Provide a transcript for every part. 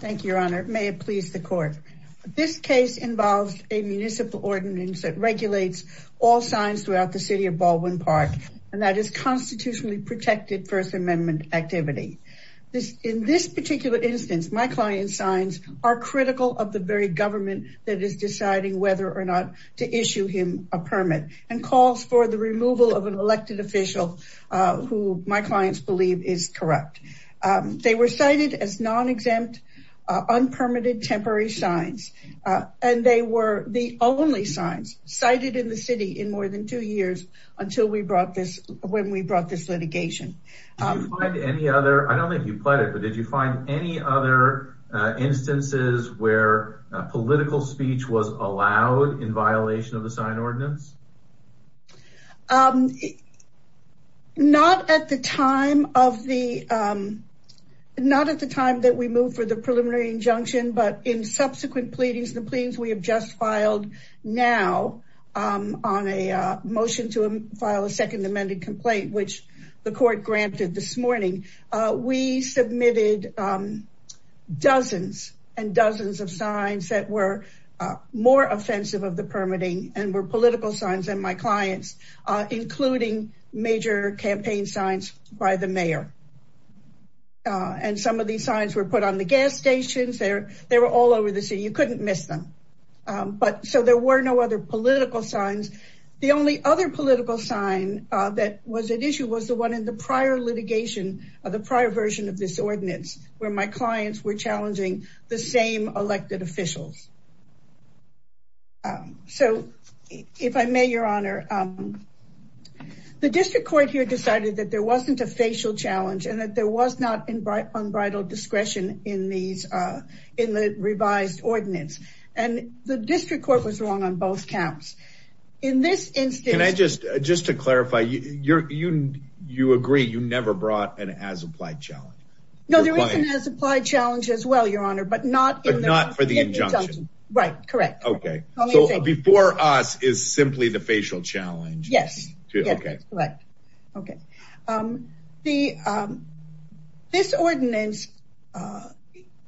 Thank you, Your Honor. May it please the court. This case involves a municipal ordinance that regulates all signs throughout the City of Baldwin Park and that is constitutionally protected First Amendment activity. In this particular instance, my client's signs are critical of the very government that is deciding whether or not to issue him a permit and calls for the removal of an elected official who my clients believe is corrupt. They were cited as non-exempt, unpermitted, temporary signs and they were the only signs cited in the city in more than two years until we brought this, when we brought this litigation. Did you find any other, I don't think you pled it, but did you find any other instances where political speech was allowed in violation of the time that we moved for the preliminary injunction? But in subsequent pleadings, the pleadings we have just filed now on a motion to file a second amended complaint, which the court granted this morning, we submitted dozens and dozens of signs that were more offensive of the permitting and were political signs than my clients, including major campaign signs by the mayor. And some of these signs were put on the gas stations. They were all over the city. You couldn't miss them. So there were no other political signs. The only other political sign that was at issue was the one in the prior litigation of the prior version of this ordinance where my clients were challenging the same elected officials. So if I may, your honor, the district court here decided that there was no discretion in the revised ordinance, and the district court was wrong on both counts. In this instance... Can I just, just to clarify, you agree you never brought an as-applied challenge? No, there is an as-applied challenge as well, your honor, but not for the injunction. Right, correct. Okay, so before us is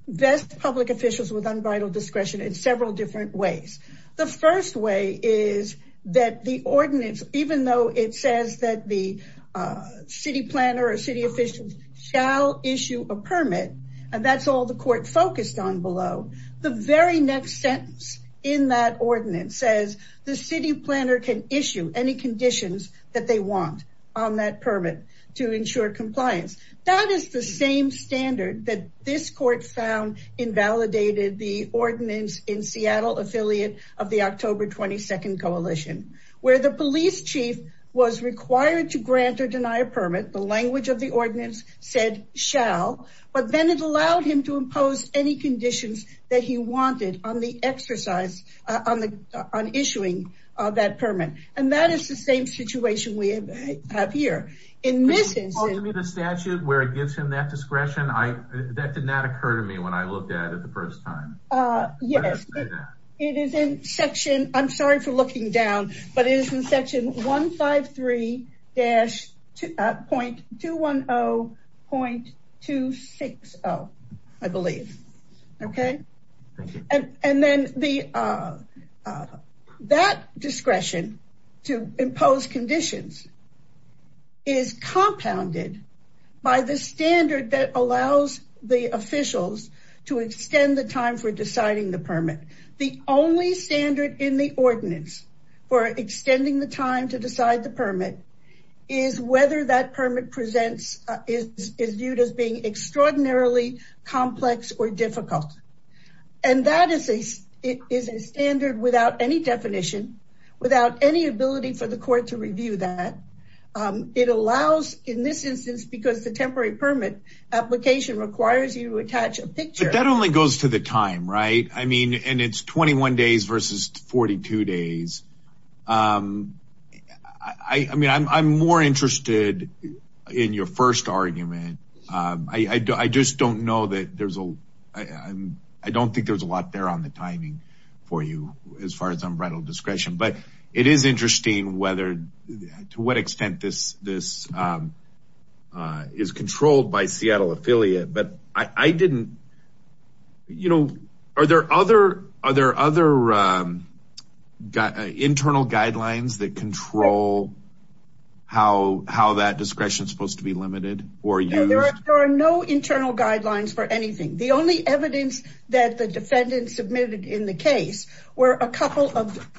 best public officials with unvital discretion in several different ways. The first way is that the ordinance, even though it says that the city planner or city officials shall issue a permit, and that's all the court focused on below, the very next sentence in that ordinance says the city planner can issue any conditions that they want on that permit to ensure compliance. That is the same standard that this court found invalidated the ordinance in Seattle affiliate of the October 22nd coalition, where the police chief was required to grant or deny a permit, the language of the ordinance said shall, but then it allowed him to impose any conditions that he wanted on the exercise, on the, on issuing that permit. And that is the same situation we have here. In this statute where it gives him that discretion, I, that did not occur to me when I looked at it the first time. Yes, it is in section, I'm sorry for looking down, but it is in section 153-2.210.260, I believe. Okay. And then the, that discretion to impose conditions is compounded by the standard that allows the officials to extend the time for deciding the permit. The only standard in the ordinance for extending the time to decide the permit is whether that permit presents is, is viewed as being extraordinarily complex or difficult. And that is a, is a standard without any definition, without any ability for the court to review that. It allows in this instance, because the temporary permit application requires you to attach a picture. But that only goes to the time, right? I mean, and it's 21 days versus 42 days. I mean, I'm more interested in your first argument. I just don't know that there's a, I don't think there's a lot there on the timing for you as far as unbridled discretion, but it is interesting whether, to what extent this, this is controlled by Seattle affiliate, but I didn't, you know, are there other, are there other internal guidelines that control how, how that discretion is supposed to be limited or used? There are no internal guidelines for anything. The only evidence that the defendant submitted in the case were a couple of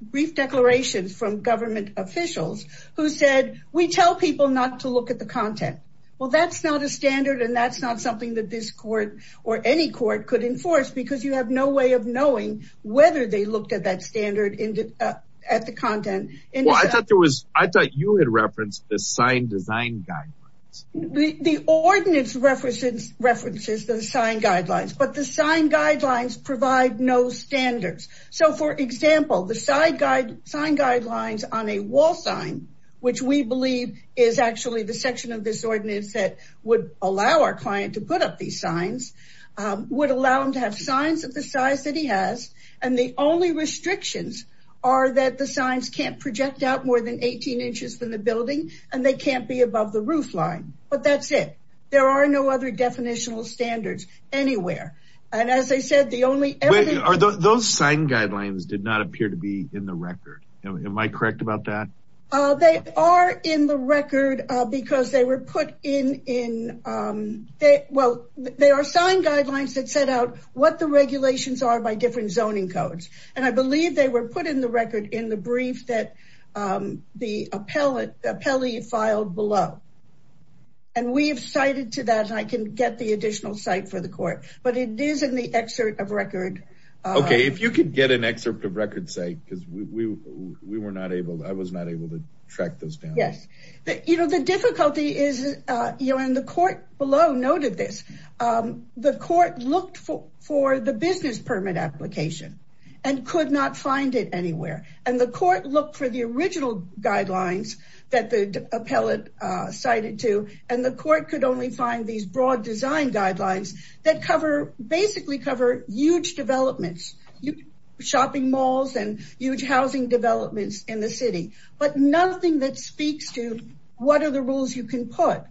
brief declarations from government officials who said, we tell people not to look at the content. Well, that's not a standard and that's not something that this court or any court could enforce because you have no way of knowing whether they looked at that standard at the content. Well, I thought there was, I thought you had referenced the sign design guidelines. The ordinance references the sign guidelines, but the sign guidelines provide no standards. So for example, the sign guidelines on a wall sign, which we believe is actually the section of this ordinance that would allow our client to put up these signs, would allow them to have signs of the size that he has. And the only restrictions are that the signs can't project out more than 18 inches from the building and they can't be above the roof line, but that's it. There are no other definitional standards anywhere. And as I said, the only, Are those sign guidelines did not appear to be in the record. Am I correct about that? Oh, they are in the record because they were put in, in, um, they, well, they are sign guidelines that set out what the regulations are by different zoning codes. And I believe they were put in the record in the brief that, um, the appellate appellee filed below. And we've cited to that, I can get the additional site for the court, but it is in the excerpt of record. Okay. If you could get an excerpt of record say, cause we, we, we were not able to, I was not able to track those families. You know, the difficulty is, uh, you know, and the court below noted this, um, the court looked for, for the business permit application and could not find it anywhere. And the court looked for the original guidelines that the appellate, uh, cited to, and the court could only find these broad design guidelines that cover, basically cover huge developments, shopping malls and huge housing developments in the city, but nothing that speaks to what are the rules you can put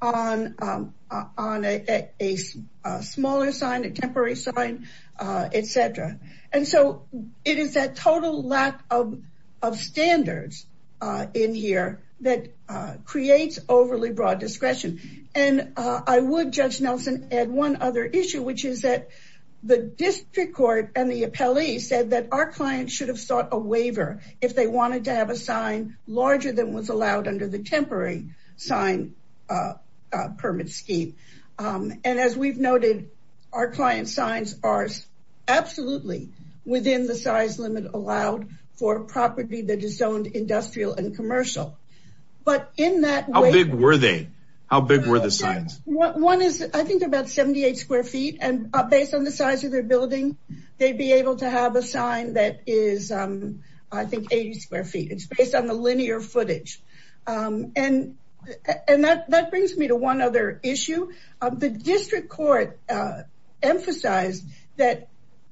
on, um, uh, on a, a, a smaller sign, a temporary sign, uh, et cetera. And so it is that total lack of, of standards, uh, in here that, uh, creates overly broad discretion. And, uh, I would judge Nelson add one other issue, which is that the district court and the appellee said that our clients should have sought a waiver if they wanted to have a sign larger than was allowed under the temporary sign. Uh, uh, permit scheme. Um, and as we've noted, our client signs are absolutely within the size limit allowed for property that is zoned industrial and commercial, but in that how big were they, how big were the signs? One is I think about 78 square feet. And based on the size of their building, they'd be able to have a sign that is, I think 80 square feet. It's based on the linear footage. Um, and, and that, that brings me to one other issue. Um, the district court, uh, emphasized that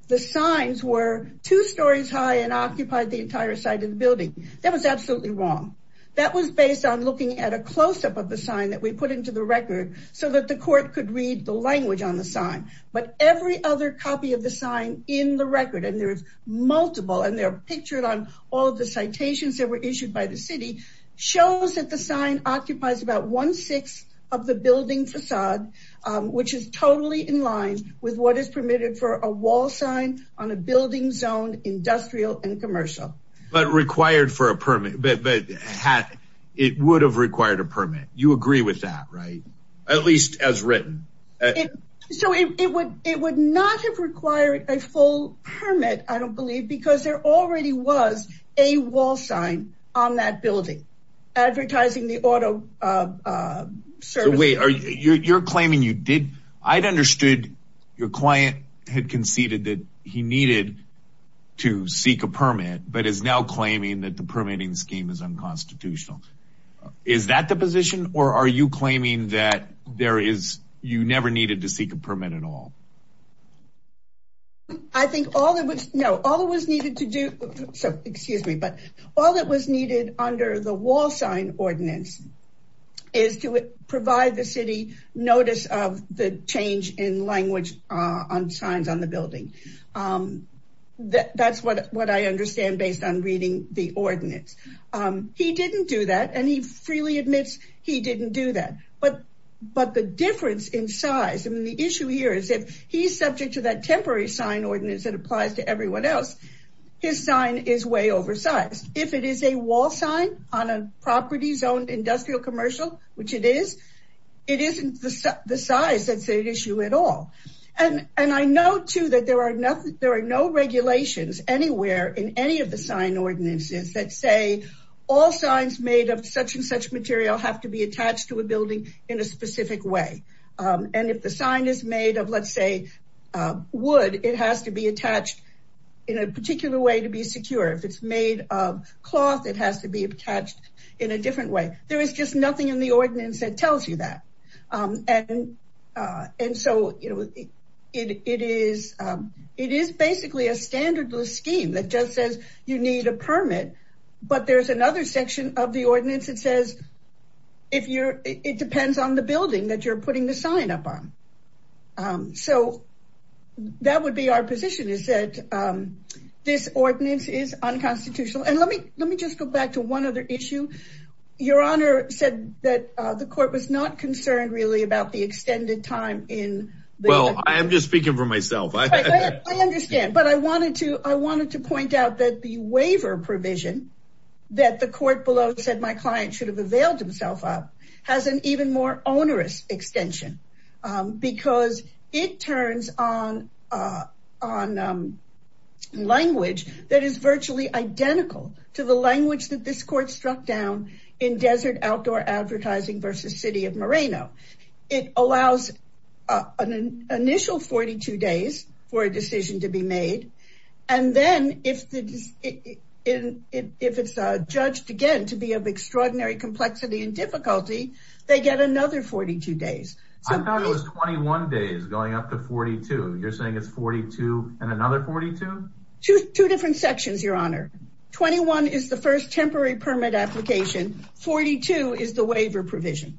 the signs were two stories high and occupied the entire side of the building. That was absolutely wrong. That was based on looking at a closeup of the sign that we put into the record so that the court could read the language on the sign, but every other copy of the sign in the record, and there's multiple and they're pictured on all of the citations that were issued by the city shows that the sign occupies about one sixth of the building facade, um, which is totally in line with what is permitted for a wall sign on a building zoned industrial and commercial, but required for a permit, but, but it would have required a permit. You agree with that, right? At least as written. So it, it would, it would not have required a full permit. I don't believe because there already was a wall sign on that building advertising the auto, uh, uh, service. Wait, are you, you're claiming you did, I'd understood your client had conceded that he needed to seek a permit, but is now claiming that the permitting scheme is unconstitutional. Is that the position or are you claiming that there is, you never needed to seek a permit at all? I think all that was, no, all it was needed to do, so excuse me, but all that was needed under the wall sign ordinance is to provide the city notice of the change in language, uh, on signs on the building. Um, that that's what, what I understand based on reading the ordinance. Um, he didn't do that and he freely admits he didn't do that. But, but the difference in size, I mean, the issue here is if he's subject to that temporary sign ordinance that applies to everyone else, his sign is way oversized. If it is a wall sign on a property zoned industrial commercial, which it is, it isn't the size that's the issue at all. And, and I know too, that there are nothing, there are no regulations anywhere in any of the sign ordinances that say all signs made of such and such material have to be attached to a building in a specific way. Um, and if the sign is made of, let's say, uh, wood, it has to be attached in a particular way to be secure. If it's made of cloth, it has to be attached in a different way. There is just nothing in the ordinance that tells you that. Um, and, uh, and so, you know, it, it is, um, it is basically a standard scheme that just says you need a permit, but there's another section of the ordinance that says, if you're, it depends on the building that you're putting the sign up on. Um, so that would be our position is that, um, this ordinance is unconstitutional. And let me, let me just go back to one other issue. Your honor said that, uh, the court was not concerned really about the extended time in. Well, I am just speaking for myself. I understand, but I wanted to, I wanted to point out that the waiver provision that the court below said my client should have availed himself up has an even more onerous extension. Um, because it turns on, uh, on, um, language that is virtually identical to the language that this court struck down in desert outdoor advertising versus city of Moreno. It allows an initial 42 days for a decision to be made. And then if the, if it's judged again, to be of extraordinary complexity and difficulty, they get another 42 days. So I thought it was 21 days going up to 42. You're saying it's 42 and another 42? Two, two different sections, your honor. 21 is the first temporary permit application. 42 is the waiver provision.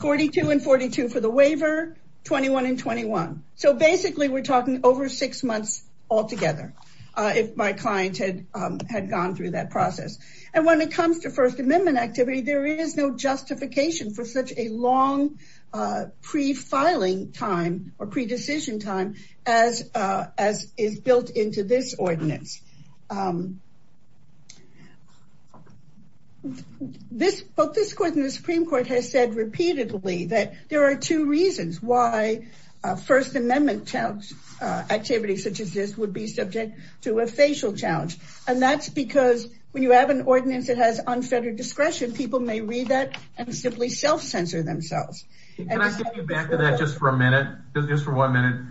42 and 42 for the waiver, 21 and 21. So basically we're talking over six months altogether. Uh, if my client had, um, had gone through that process and when it comes to first amendment activity, there is no justification for such a long, uh, pre-filing time or pre-decision time as, uh, as is built into this ordinance. Um, this, both this court and the Supreme court has said repeatedly that there are two reasons why a first amendment challenge, uh, activity such as this would be subject to a facial challenge, and that's because when you have an ordinance that has unfettered discretion, people may read that and simply self-censor themselves. Can I get you back to that just for a minute, just for one minute.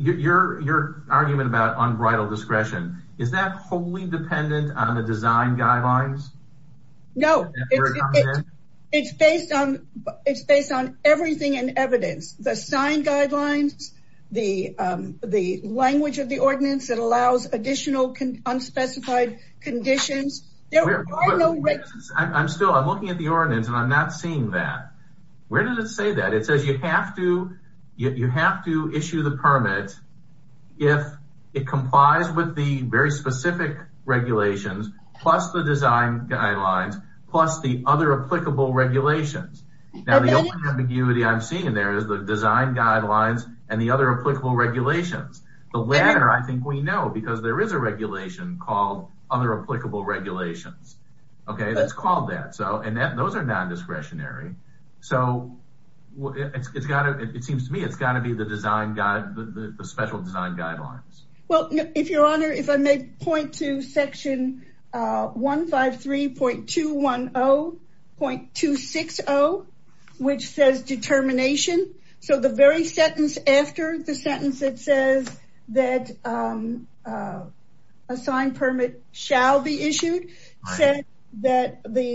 Your, your argument about unbridled discretion, is that wholly dependent on the design guidelines? No, it's based on, it's based on everything in evidence, the sign guidelines, the, um, the language of the ordinance that allows additional unspecified conditions, there are no... I'm still, I'm looking at the ordinance and I'm not seeing that. Where does it say that? It says you have to, you have to issue the permit if it complies with the very specific regulations, plus the design guidelines, plus the other applicable regulations. Now the only ambiguity I'm seeing there is the design guidelines and the other applicable regulations. The latter, I think we know because there is a regulation called other applicable regulations. Okay. That's called that. So, and that, those are non-discretionary. So it's gotta, it seems to me, it's gotta be the design guide, the special design guidelines. Well, if your honor, if I may point to section, uh, 153.210.260, which says determination. So the very sentence after the sentence, it says that, um, uh, a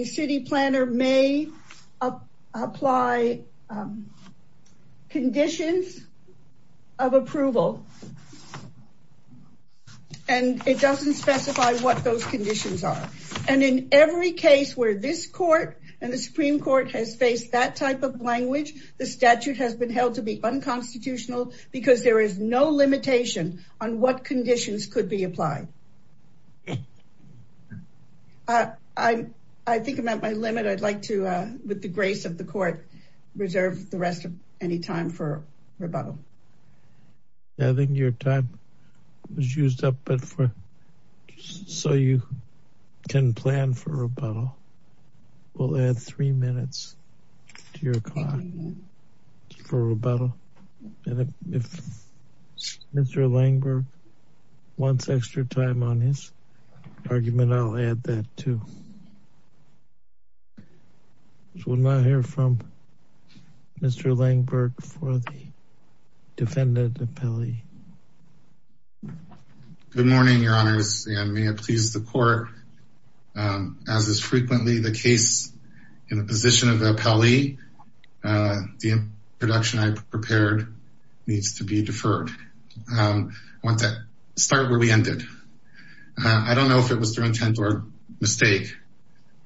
city planner may apply, um, conditions of approval, and it doesn't specify what those conditions are. And in every case where this court and the Supreme court has faced that type of language, the statute has been held to be unconstitutional because there is no limitation on what conditions could be applied. I, I think I'm at my limit. I'd like to, uh, with the grace of the court, reserve the rest of any time for rebuttal. I think your time was used up, but for, so you can plan for rebuttal. We'll add three minutes to your clock for rebuttal. And if Mr. Langberg wants extra time on his argument, I'll add that too. So we'll not hear from Mr. Langberg for the defendant appellee. Good morning, your honors. And may it please the court, um, as is frequently the case in the needs to be deferred. Um, I want to start where we ended. Uh, I don't know if it was through intent or mistake,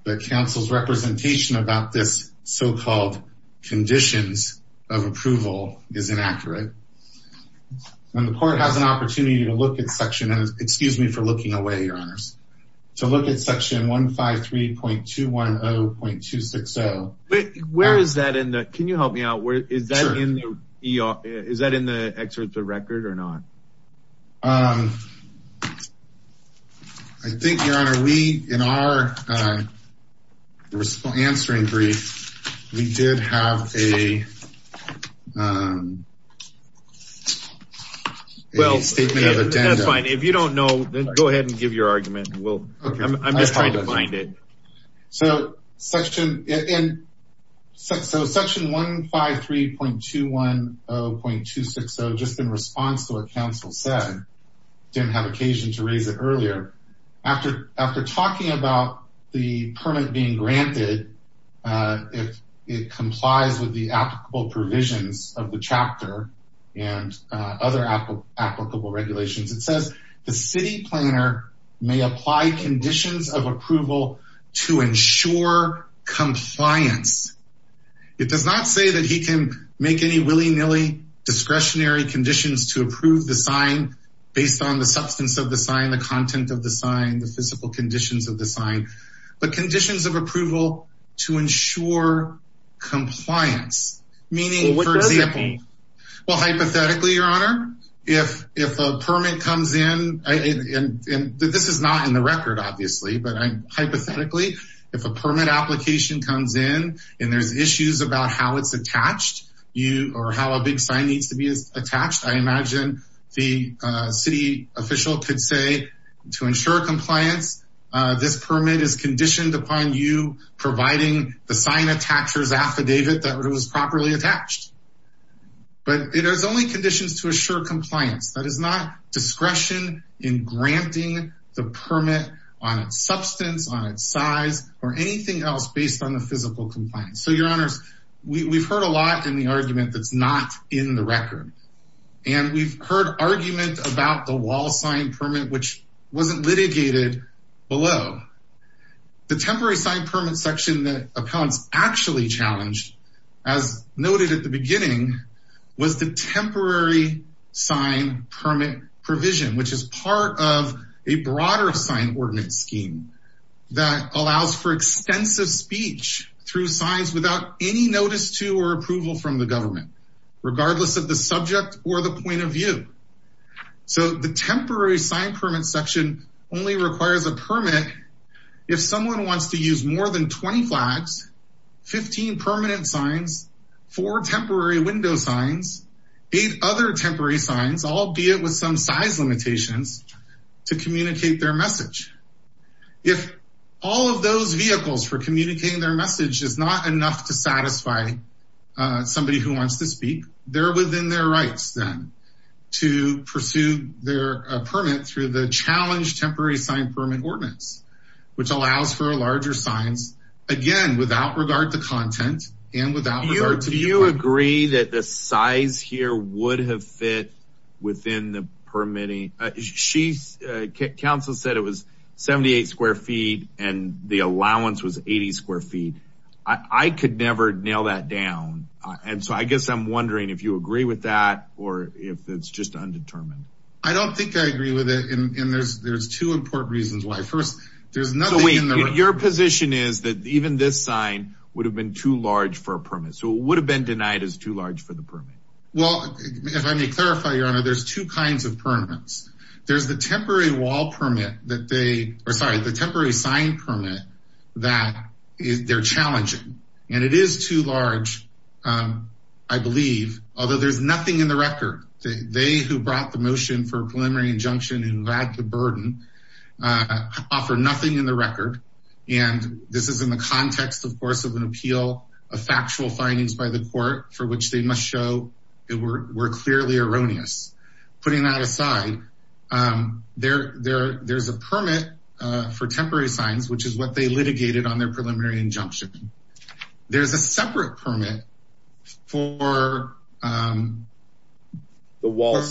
but counsel's representation about this so-called conditions of approval is inaccurate and the court has an opportunity to look at section and excuse me for looking away, your honors, to look at section 153.210.260. Where is that in the, can you help me out? Is that in the, is that in the excerpts of record or not? Um, I think your honor, we, in our, uh, answering brief, we did have a, um, a statement of agenda. Fine. If you don't know, then go ahead and give your argument. We'll I'm just trying to find it. So section and so section 153.210.260 just in response to what counsel said, didn't have occasion to raise it earlier after, after talking about the permit being granted, uh, if it complies with the applicable provisions of the chapter and, uh, other applicable regulations, it says the city planner may apply conditions of approval to ensure compliance. It does not say that he can make any willy nilly discretionary conditions to approve the sign based on the substance of the sign, the content of the sign, the physical conditions of the sign, but conditions of approval to ensure compliance, meaning for example, well, hypothetically, your honor, if, if a permit comes in and this is not in the record, obviously, but I'm hypothetically, if a permit application comes in and there's issues about how it's attached, you, or how a big sign needs to be attached. I imagine the city official could say to ensure compliance, uh, this permit is conditioned upon you providing the sign attachers affidavit that it was properly attached, but it has only conditions to assure compliance that is not discretion in granting the permit on its substance on its size or anything else based on the physical compliance. So your honors, we we've heard a lot in the argument that's not in the record and we've heard argument about the wall sign permit, which wasn't litigated below the temporary sign permit section that appellants actually challenged as noted at the beginning was the temporary sign permit provision, which is part of a broader sign ordinance scheme that allows for extensive speech through signs without any notice to or approval from the government, regardless of the subject or the point of view. So the temporary sign permit section only requires a permit. If someone wants to use more than 20 flags, 15 permanent signs for temporary window signs, eight other temporary signs, albeit with some size limitations to communicate their message. If all of those vehicles for communicating their message is not enough to satisfy somebody who wants to speak, they're within their rights then to pursue their permit through the challenge temporary sign permit ordinance, which allows for a larger signs again, without regard to content. And without, do you agree that the size here would have fit within the permitting? She's a council said it was 78 square feet and the allowance was 80 square feet. I could never nail that down. And so I guess I'm wondering if you agree with that or if it's just undetermined. I don't think I agree with it. And there's, there's two important reasons why first there's nothing in your position is that even this sign would have been too large for a permit. So it would have been denied as too large for the permit. Well, if I may clarify, your honor, there's two kinds of permits. There's the temporary wall permit that they, or sorry, the temporary sign permit that is they're challenging and it is too large I believe, although there's nothing in the record, they, who brought the motion for preliminary injunction and who had the burden offer nothing in the record. And this is in the context, of course, of an appeal of factual findings by the court for which they must show it were clearly erroneous putting that aside. There, there, there's a permit for temporary signs, which is what they litigated on their preliminary injunction. There's a separate permit for the wall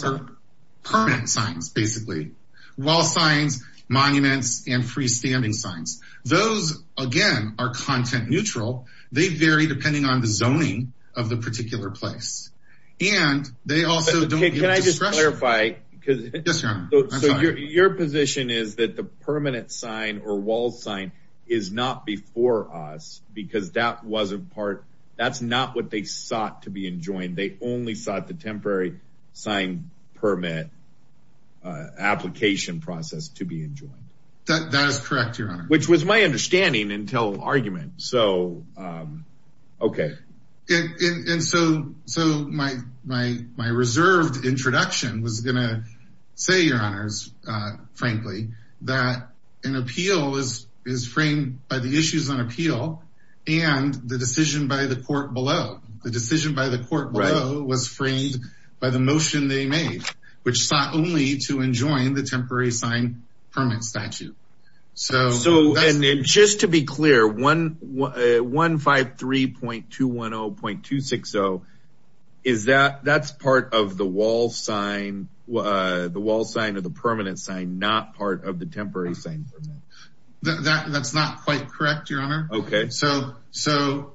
permit signs. Basically wall signs, monuments, and freestanding signs. Those again are content neutral. They vary depending on the zoning of the particular place. And they also don't, can I just clarify because your position is that the permanent sign or wall sign is not before us because that wasn't part. That's not what they sought to be enjoined. They only sought the temporary sign permit application process to be enjoined. That, that is correct, your honor. Which was my understanding until argument. So, okay. And so, so my, my, my reserved introduction was going to say, your honors, frankly, that an appeal is, is framed by the issues on appeal and the decision by the court below. The decision by the court below was framed by the motion they made, which sought only to enjoin the temporary sign permit statute. So, and then just to be clear, 153.210.260, is that, that's part of the wall sign, the wall sign of the permanent sign, not part of the temporary sign. That that's not quite correct, your honor. Okay. So, so,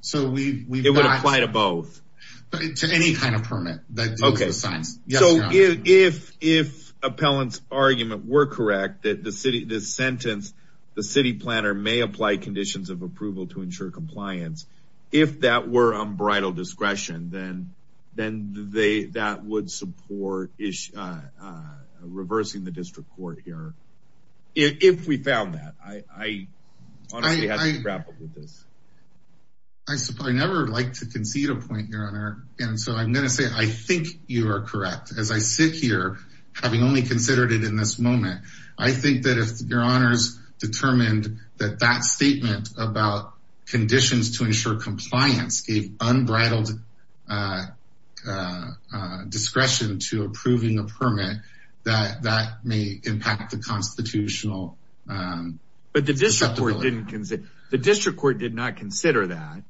so we, we, it would apply to both, to any kind of permit. That's okay. The signs. So if, if, if appellant's argument were correct, that the city, this sentence, the city planner may apply conditions of approval to ensure compliance. If that were unbridled discretion, then, then they, that would support is reversing the district court here. If we found that, I honestly have to grapple with this. I suppose, I never like to concede a point, your honor. And so I'm going to say, I think you are correct. As I sit here, having only considered it in this moment, I think that if your honors determined that that statement about conditions to ensure compliance gave unbridled discretion to approving a permit, that that may impact the constitutional... But the district court didn't consider, the district court did not consider that.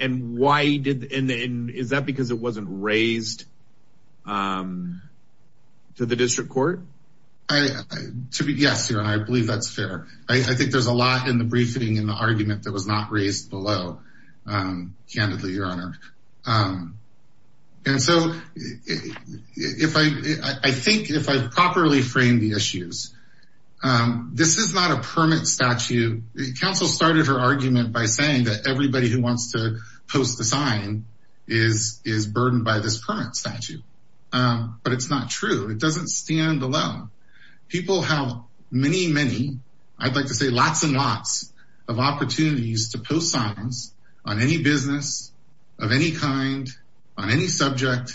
And why did, and is that because it wasn't raised to the district court? I, to be, yes, your honor, I believe that's fair. I think there's a lot in the briefing and the argument that was not raised below, candidly, your honor. And so if I, I think if I've properly framed the issues, this is not a permit statute, council started her argument by saying that everybody who wants to post the sign is, is burdened by this permit statute, but it's not true. It doesn't stand alone. People have many, many, I'd like to say lots and lots of opportunities to post signs on any business of any kind, on any subject,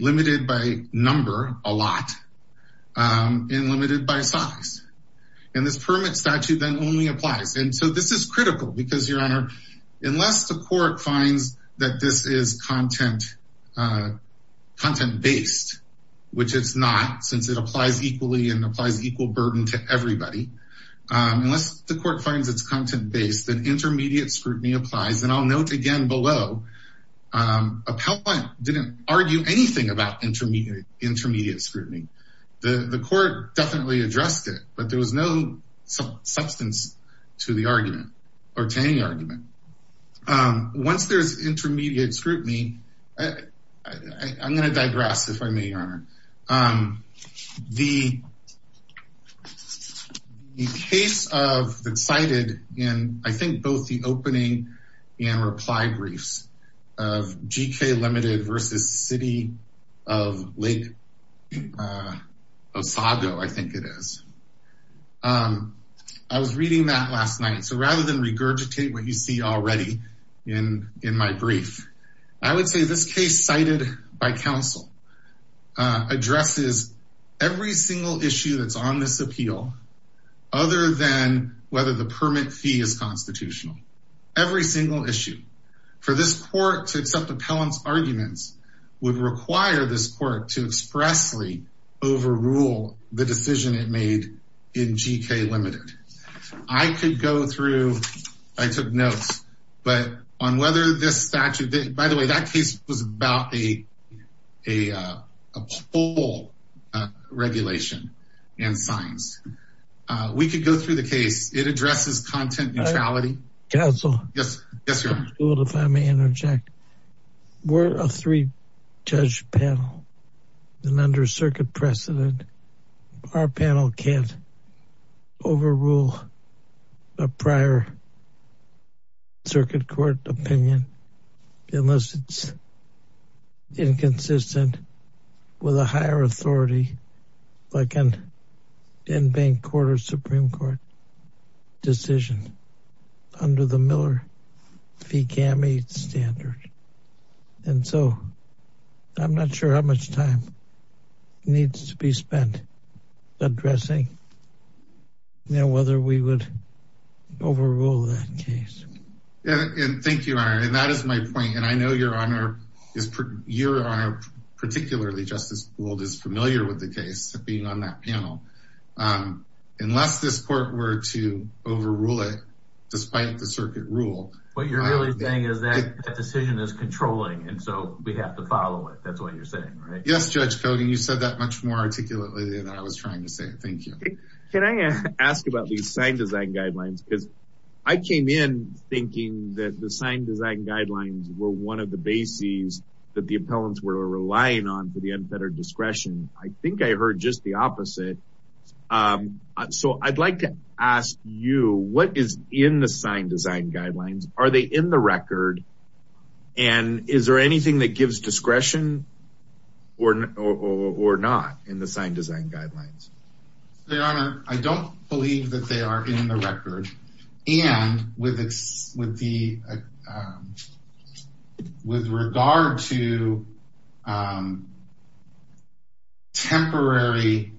limited by number a lot, and limited by size. And this permit statute then only applies. And so this is critical because your honor, unless the court finds that this is content, content based, which it's not since it applies equally and applies equal burden to everybody, unless the court finds it's content based, then intermediate scrutiny applies. And I'll note again below, appellant didn't argue anything about intermediate scrutiny, the court definitely addressed it, but there was no substance to the argument or to any argument. Once there's intermediate scrutiny, I'm going to digress, if I may, your honor. The case that's cited in, I think, both the opening and reply briefs of GK limited versus city of Lake Osago, I think it is, I was reading that last night. So rather than regurgitate what you see already in my brief, I would say this case cited by counsel addresses every single issue that's on this appeal, other than whether the permit fee is constitutional, every single issue. For this court to accept appellant's arguments would require this court to expressly overrule the decision it made in GK limited. I could go through, I took notes, but on whether this statute, by the way, that case was about a poll regulation and signs. We could go through the case. It addresses content neutrality. Counsel, if I may interject, we're a three judge panel and under circuit precedent, our panel can't overrule a prior circuit court opinion, unless it's inconsistent with a higher authority, like an in-bank court or Supreme court decision under the Miller fee GAMI standard. And so I'm not sure how much time needs to be spent addressing, you know, whether we would overrule that case. Yeah. Thank you, your honor. And that is my point. And I know your honor, particularly Justice Gould is familiar with the case of being on that panel. Unless this court were to overrule it, despite the circuit rule. What you're really saying is that the decision is controlling. And so we have to follow it. That's what you're saying, right? Yes, judge Cogan. You said that much more articulately than I was trying to say. Thank you. Can I ask about these sign design guidelines? I came in thinking that the sign design guidelines were one of the bases that the appellants were relying on for the unfettered discretion. I think I heard just the opposite. So I'd like to ask you what is in the sign design guidelines? Are they in the record? And is there anything that gives discretion or not in the sign design guidelines? Your honor, I don't believe that they are in the record. And with regard to temporary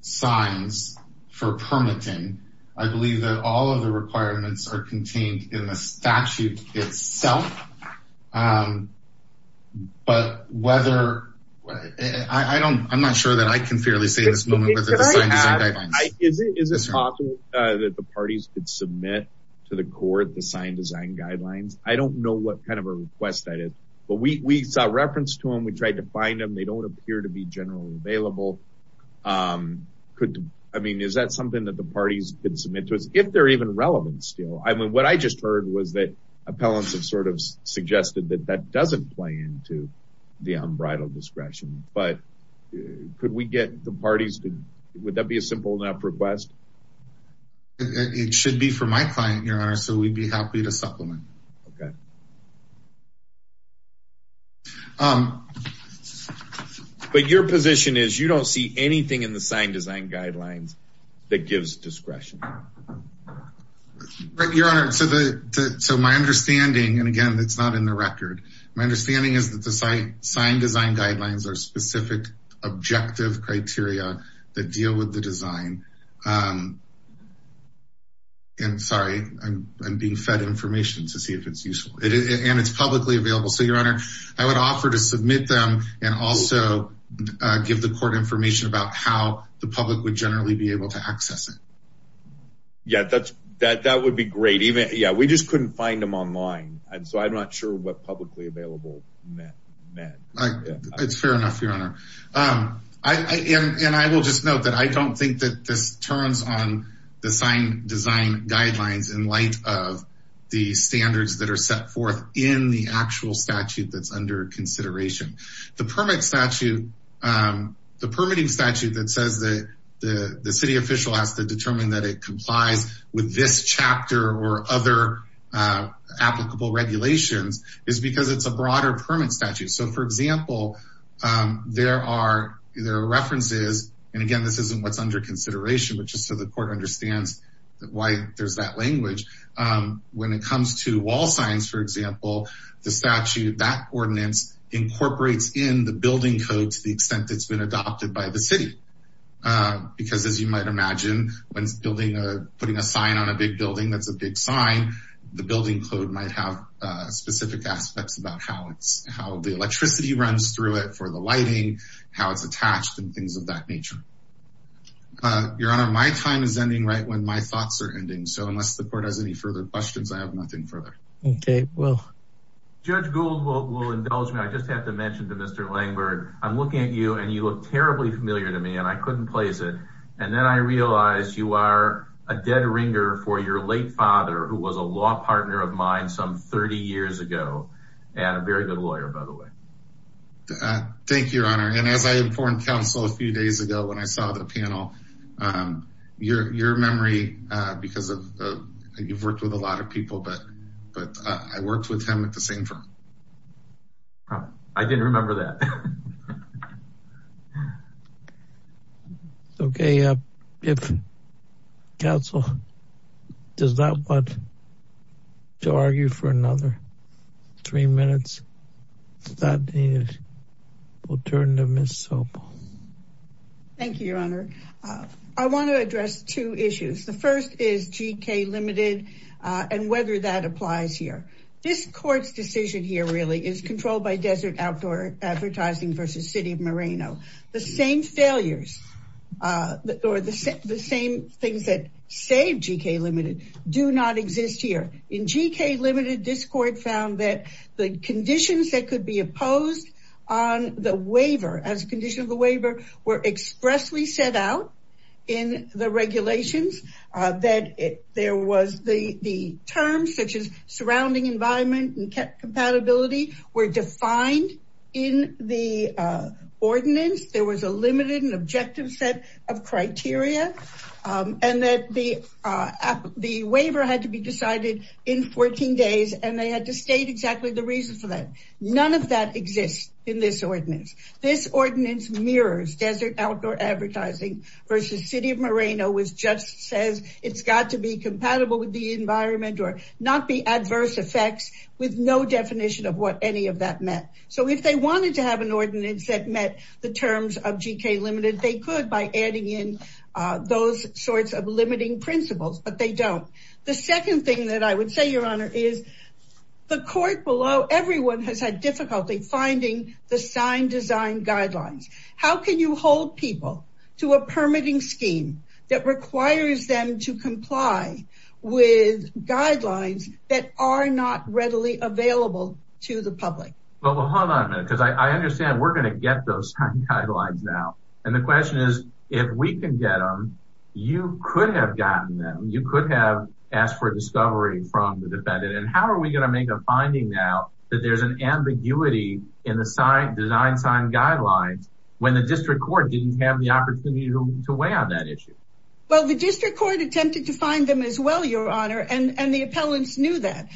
signs for permitting, I believe that all of the requirements are contained in the statute itself, but whether, I'm not sure that I can fairly say at this moment, whether the sign design guidelines. Is it possible that the parties could submit to the court the sign design guidelines? I don't know what kind of a request that is, but we saw reference to them. We tried to find them. They don't appear to be generally available. I mean, is that something that the parties could submit to us, if they're even relevant still? I mean, what I just heard was that appellants have sort of suggested that that doesn't play into the unbridled discretion. But could we get the parties to, would that be a simple enough request? It should be for my client, your honor. So we'd be happy to supplement. Okay. Um, but your position is you don't see anything in the sign design guidelines that gives discretion. Right. Your honor. So the, so my understanding, and again, it's not in the record. My understanding is that the site sign design guidelines are specific, objective criteria that deal with the design. Um, and sorry, I'm, I'm being fed information to see if it's useful and it's publicly available. So your honor, I would offer to submit them and also, uh, give the court information about how the public would generally be able to access it. Yeah, that's that, that would be great. Even, yeah, we just couldn't find them online. And so I'm not sure what publicly available meant. It's fair enough, your honor. Um, I, and, and I will just note that I don't think that this turns on the sign design guidelines in light of the standards that are set forth in the actual statute that's under consideration. The permit statute, um, the permitting statute that says that the city official has to determine that it complies with this chapter or other, uh, applicable regulations is because it's a broader permit statute. So for example, um, there are, there are references, and again, this isn't what's under consideration, but just so the court understands why there's that language, um, when it comes to wall signs, for example, the statute, that ordinance incorporates in the building code to the extent it's been adopted by the city, uh, because as you might imagine, when building a, putting a sign on a big building, that's a big sign. The building code might have, uh, specific aspects about how it's, how the electricity runs through it for the lighting, how it's attached and things of that nature, uh, your honor, my time is ending right when my thoughts are ending. So unless the court has any further questions, I have nothing further. Okay. Well, Judge Gould will, will indulge me. I just have to mention to Mr. I'm looking at you and you look terribly familiar to me and I couldn't place it. And then I realized you are a dead ringer for your late father, who was a law partner of mine some 30 years ago and a very good lawyer, by the way. Uh, thank you, your honor. And as I informed counsel a few days ago, when I saw the panel, um, your, your memory, uh, because of, uh, you've worked with a lot of people, but, but, uh, I worked with him at the same time. Oh, I didn't remember that. Okay. Uh, if counsel does not want to argue for another three minutes, that is, we'll turn to Ms. Sobel. Thank you, your honor. Uh, I want to address two issues. The first is GK limited, uh, and whether that applies here. This court's decision here really is controlled by desert outdoor advertising versus city of Moreno. The same failures, uh, or the same, the same things that save GK limited do not exist here. In GK limited, this court found that the conditions that could be opposed on the waiver as a condition of the waiver were expressly set out in the regulations. That there was the, the terms such as surrounding environment and kept compatibility were defined in the, uh, ordinance. There was a limited and objective set of criteria. Um, and that the, uh, the waiver had to be decided in 14 days and they had to state exactly the reason for that. None of that exists in this ordinance. This ordinance mirrors desert outdoor advertising versus city of Moreno was just says it's got to be compatible with the environment or not be adverse effects with no definition of what any of that meant. So if they wanted to have an ordinance that met the terms of GK limited, they could by adding in, uh, those sorts of limiting principles, but they don't. The second thing that I would say, your honor, is the court below everyone has had difficulty finding the sign design guidelines. How can you hold people to a permitting scheme that requires them to comply with guidelines that are not readily available to the public? Well, hold on a minute. Cause I understand we're going to get those guidelines now. And the question is, if we can get them, you could have gotten them. You could have asked for discovery from the defendant. And how are we going to make a finding now that there's an ambiguity in the design sign guidelines when the district court didn't have the opportunity to weigh on that issue? Well, the district court attempted to find them as well, your honor, and the appellants knew that.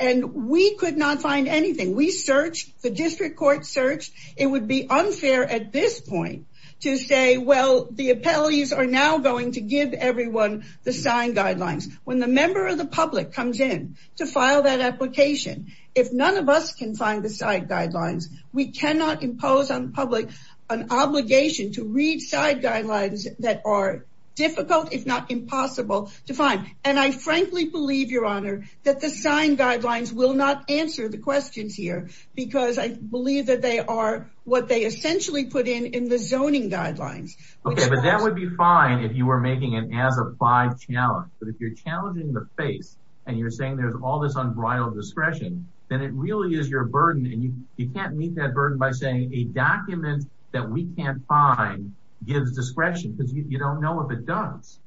And we could not find anything. We searched, the district court searched. It would be unfair at this point to say, well, the appellees are now going to give everyone the sign guidelines. When the member of the public comes in to file that application, if none of us can find the side guidelines, we cannot impose on public an obligation to read side guidelines that are difficult, if not impossible to find. And I frankly believe your honor that the sign guidelines will not answer the questions here because I believe that they are what they essentially put in, in the zoning guidelines. Okay. But that would be fine if you were making an as of five challenge, but if you're challenging the face and you're saying there's all this unbridled discretion, then it really is your burden. And you, you can't meet that burden by saying a document that we can't find gives discretion because you don't know if it does.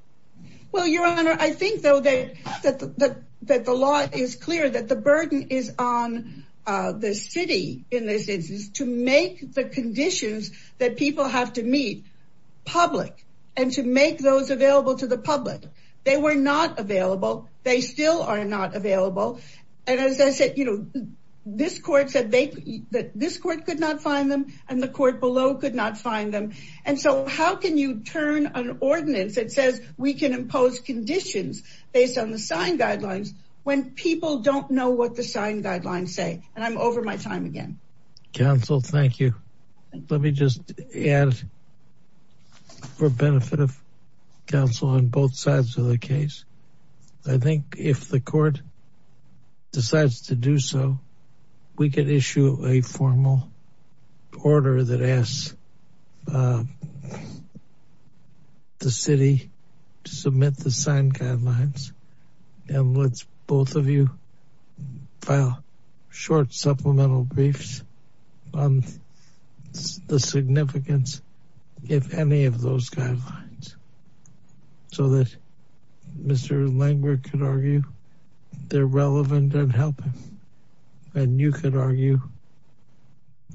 Well, your honor, I think though that, that, that, that the law is clear that the burden is on the city in this instance to make the conditions that people have to meet public and to make those available to the public. They were not available. They still are not available. And as I said, you know, this court said they, that this court could not find them and the court below could not find them. And so how can you turn an ordinance that says we can impose conditions based on the sign guidelines when people don't know what the sign guidelines say. And I'm over my time again. Counsel. Thank you. Let me just add for benefit of counsel on both sides of the case. I think if the court decides to do so, we could issue a formal order that asks the city to submit the sign guidelines and let's both of you file short supplemental briefs on the significance, if any of those guidelines. So that Mr. Langworth could argue they're relevant and help him. And you could argue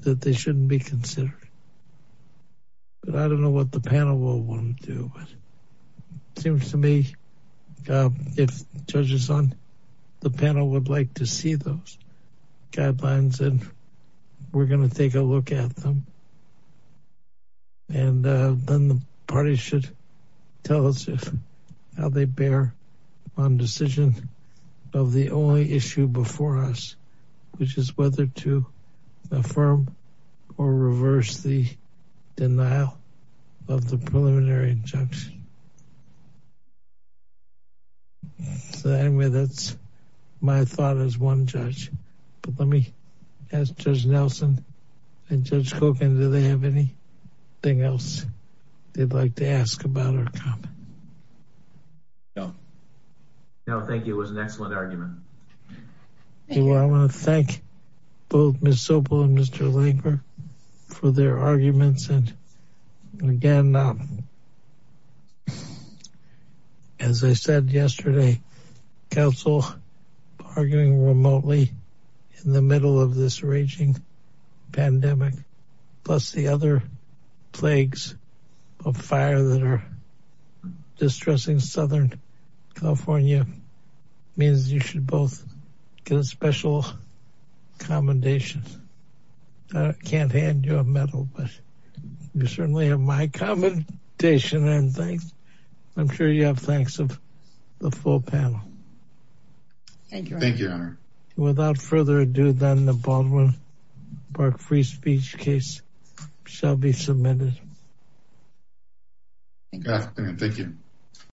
that they shouldn't be considered, but I don't know what the panel will want to do, but it seems to me if judges on the panel would like to see those guidelines and we're going to take a look at them and then the party should tell us how they bear on decision of the only issue before us, which is whether to affirm or reverse the denial of the preliminary injunction. So anyway, that's my thought as one judge, but let me ask Judge Nelson and Judge Kogan, do they have anything else? They'd like to ask about or comment? No. No. Thank you. It was an excellent argument. Well, I want to thank both Ms. Sobel and Mr. Langworth for their arguments. And again, as I said yesterday, counsel arguing remotely in the middle of this a fire that are distressing Southern California means you should both get a special commendation. I can't hand you a medal, but you certainly have my commendation and thanks. I'm sure you have thanks of the full panel. Thank you. Thank you, Your Honor. Without further ado, then the Baldwin-Bark Free Speech case shall be submitted. Good afternoon. Thank you.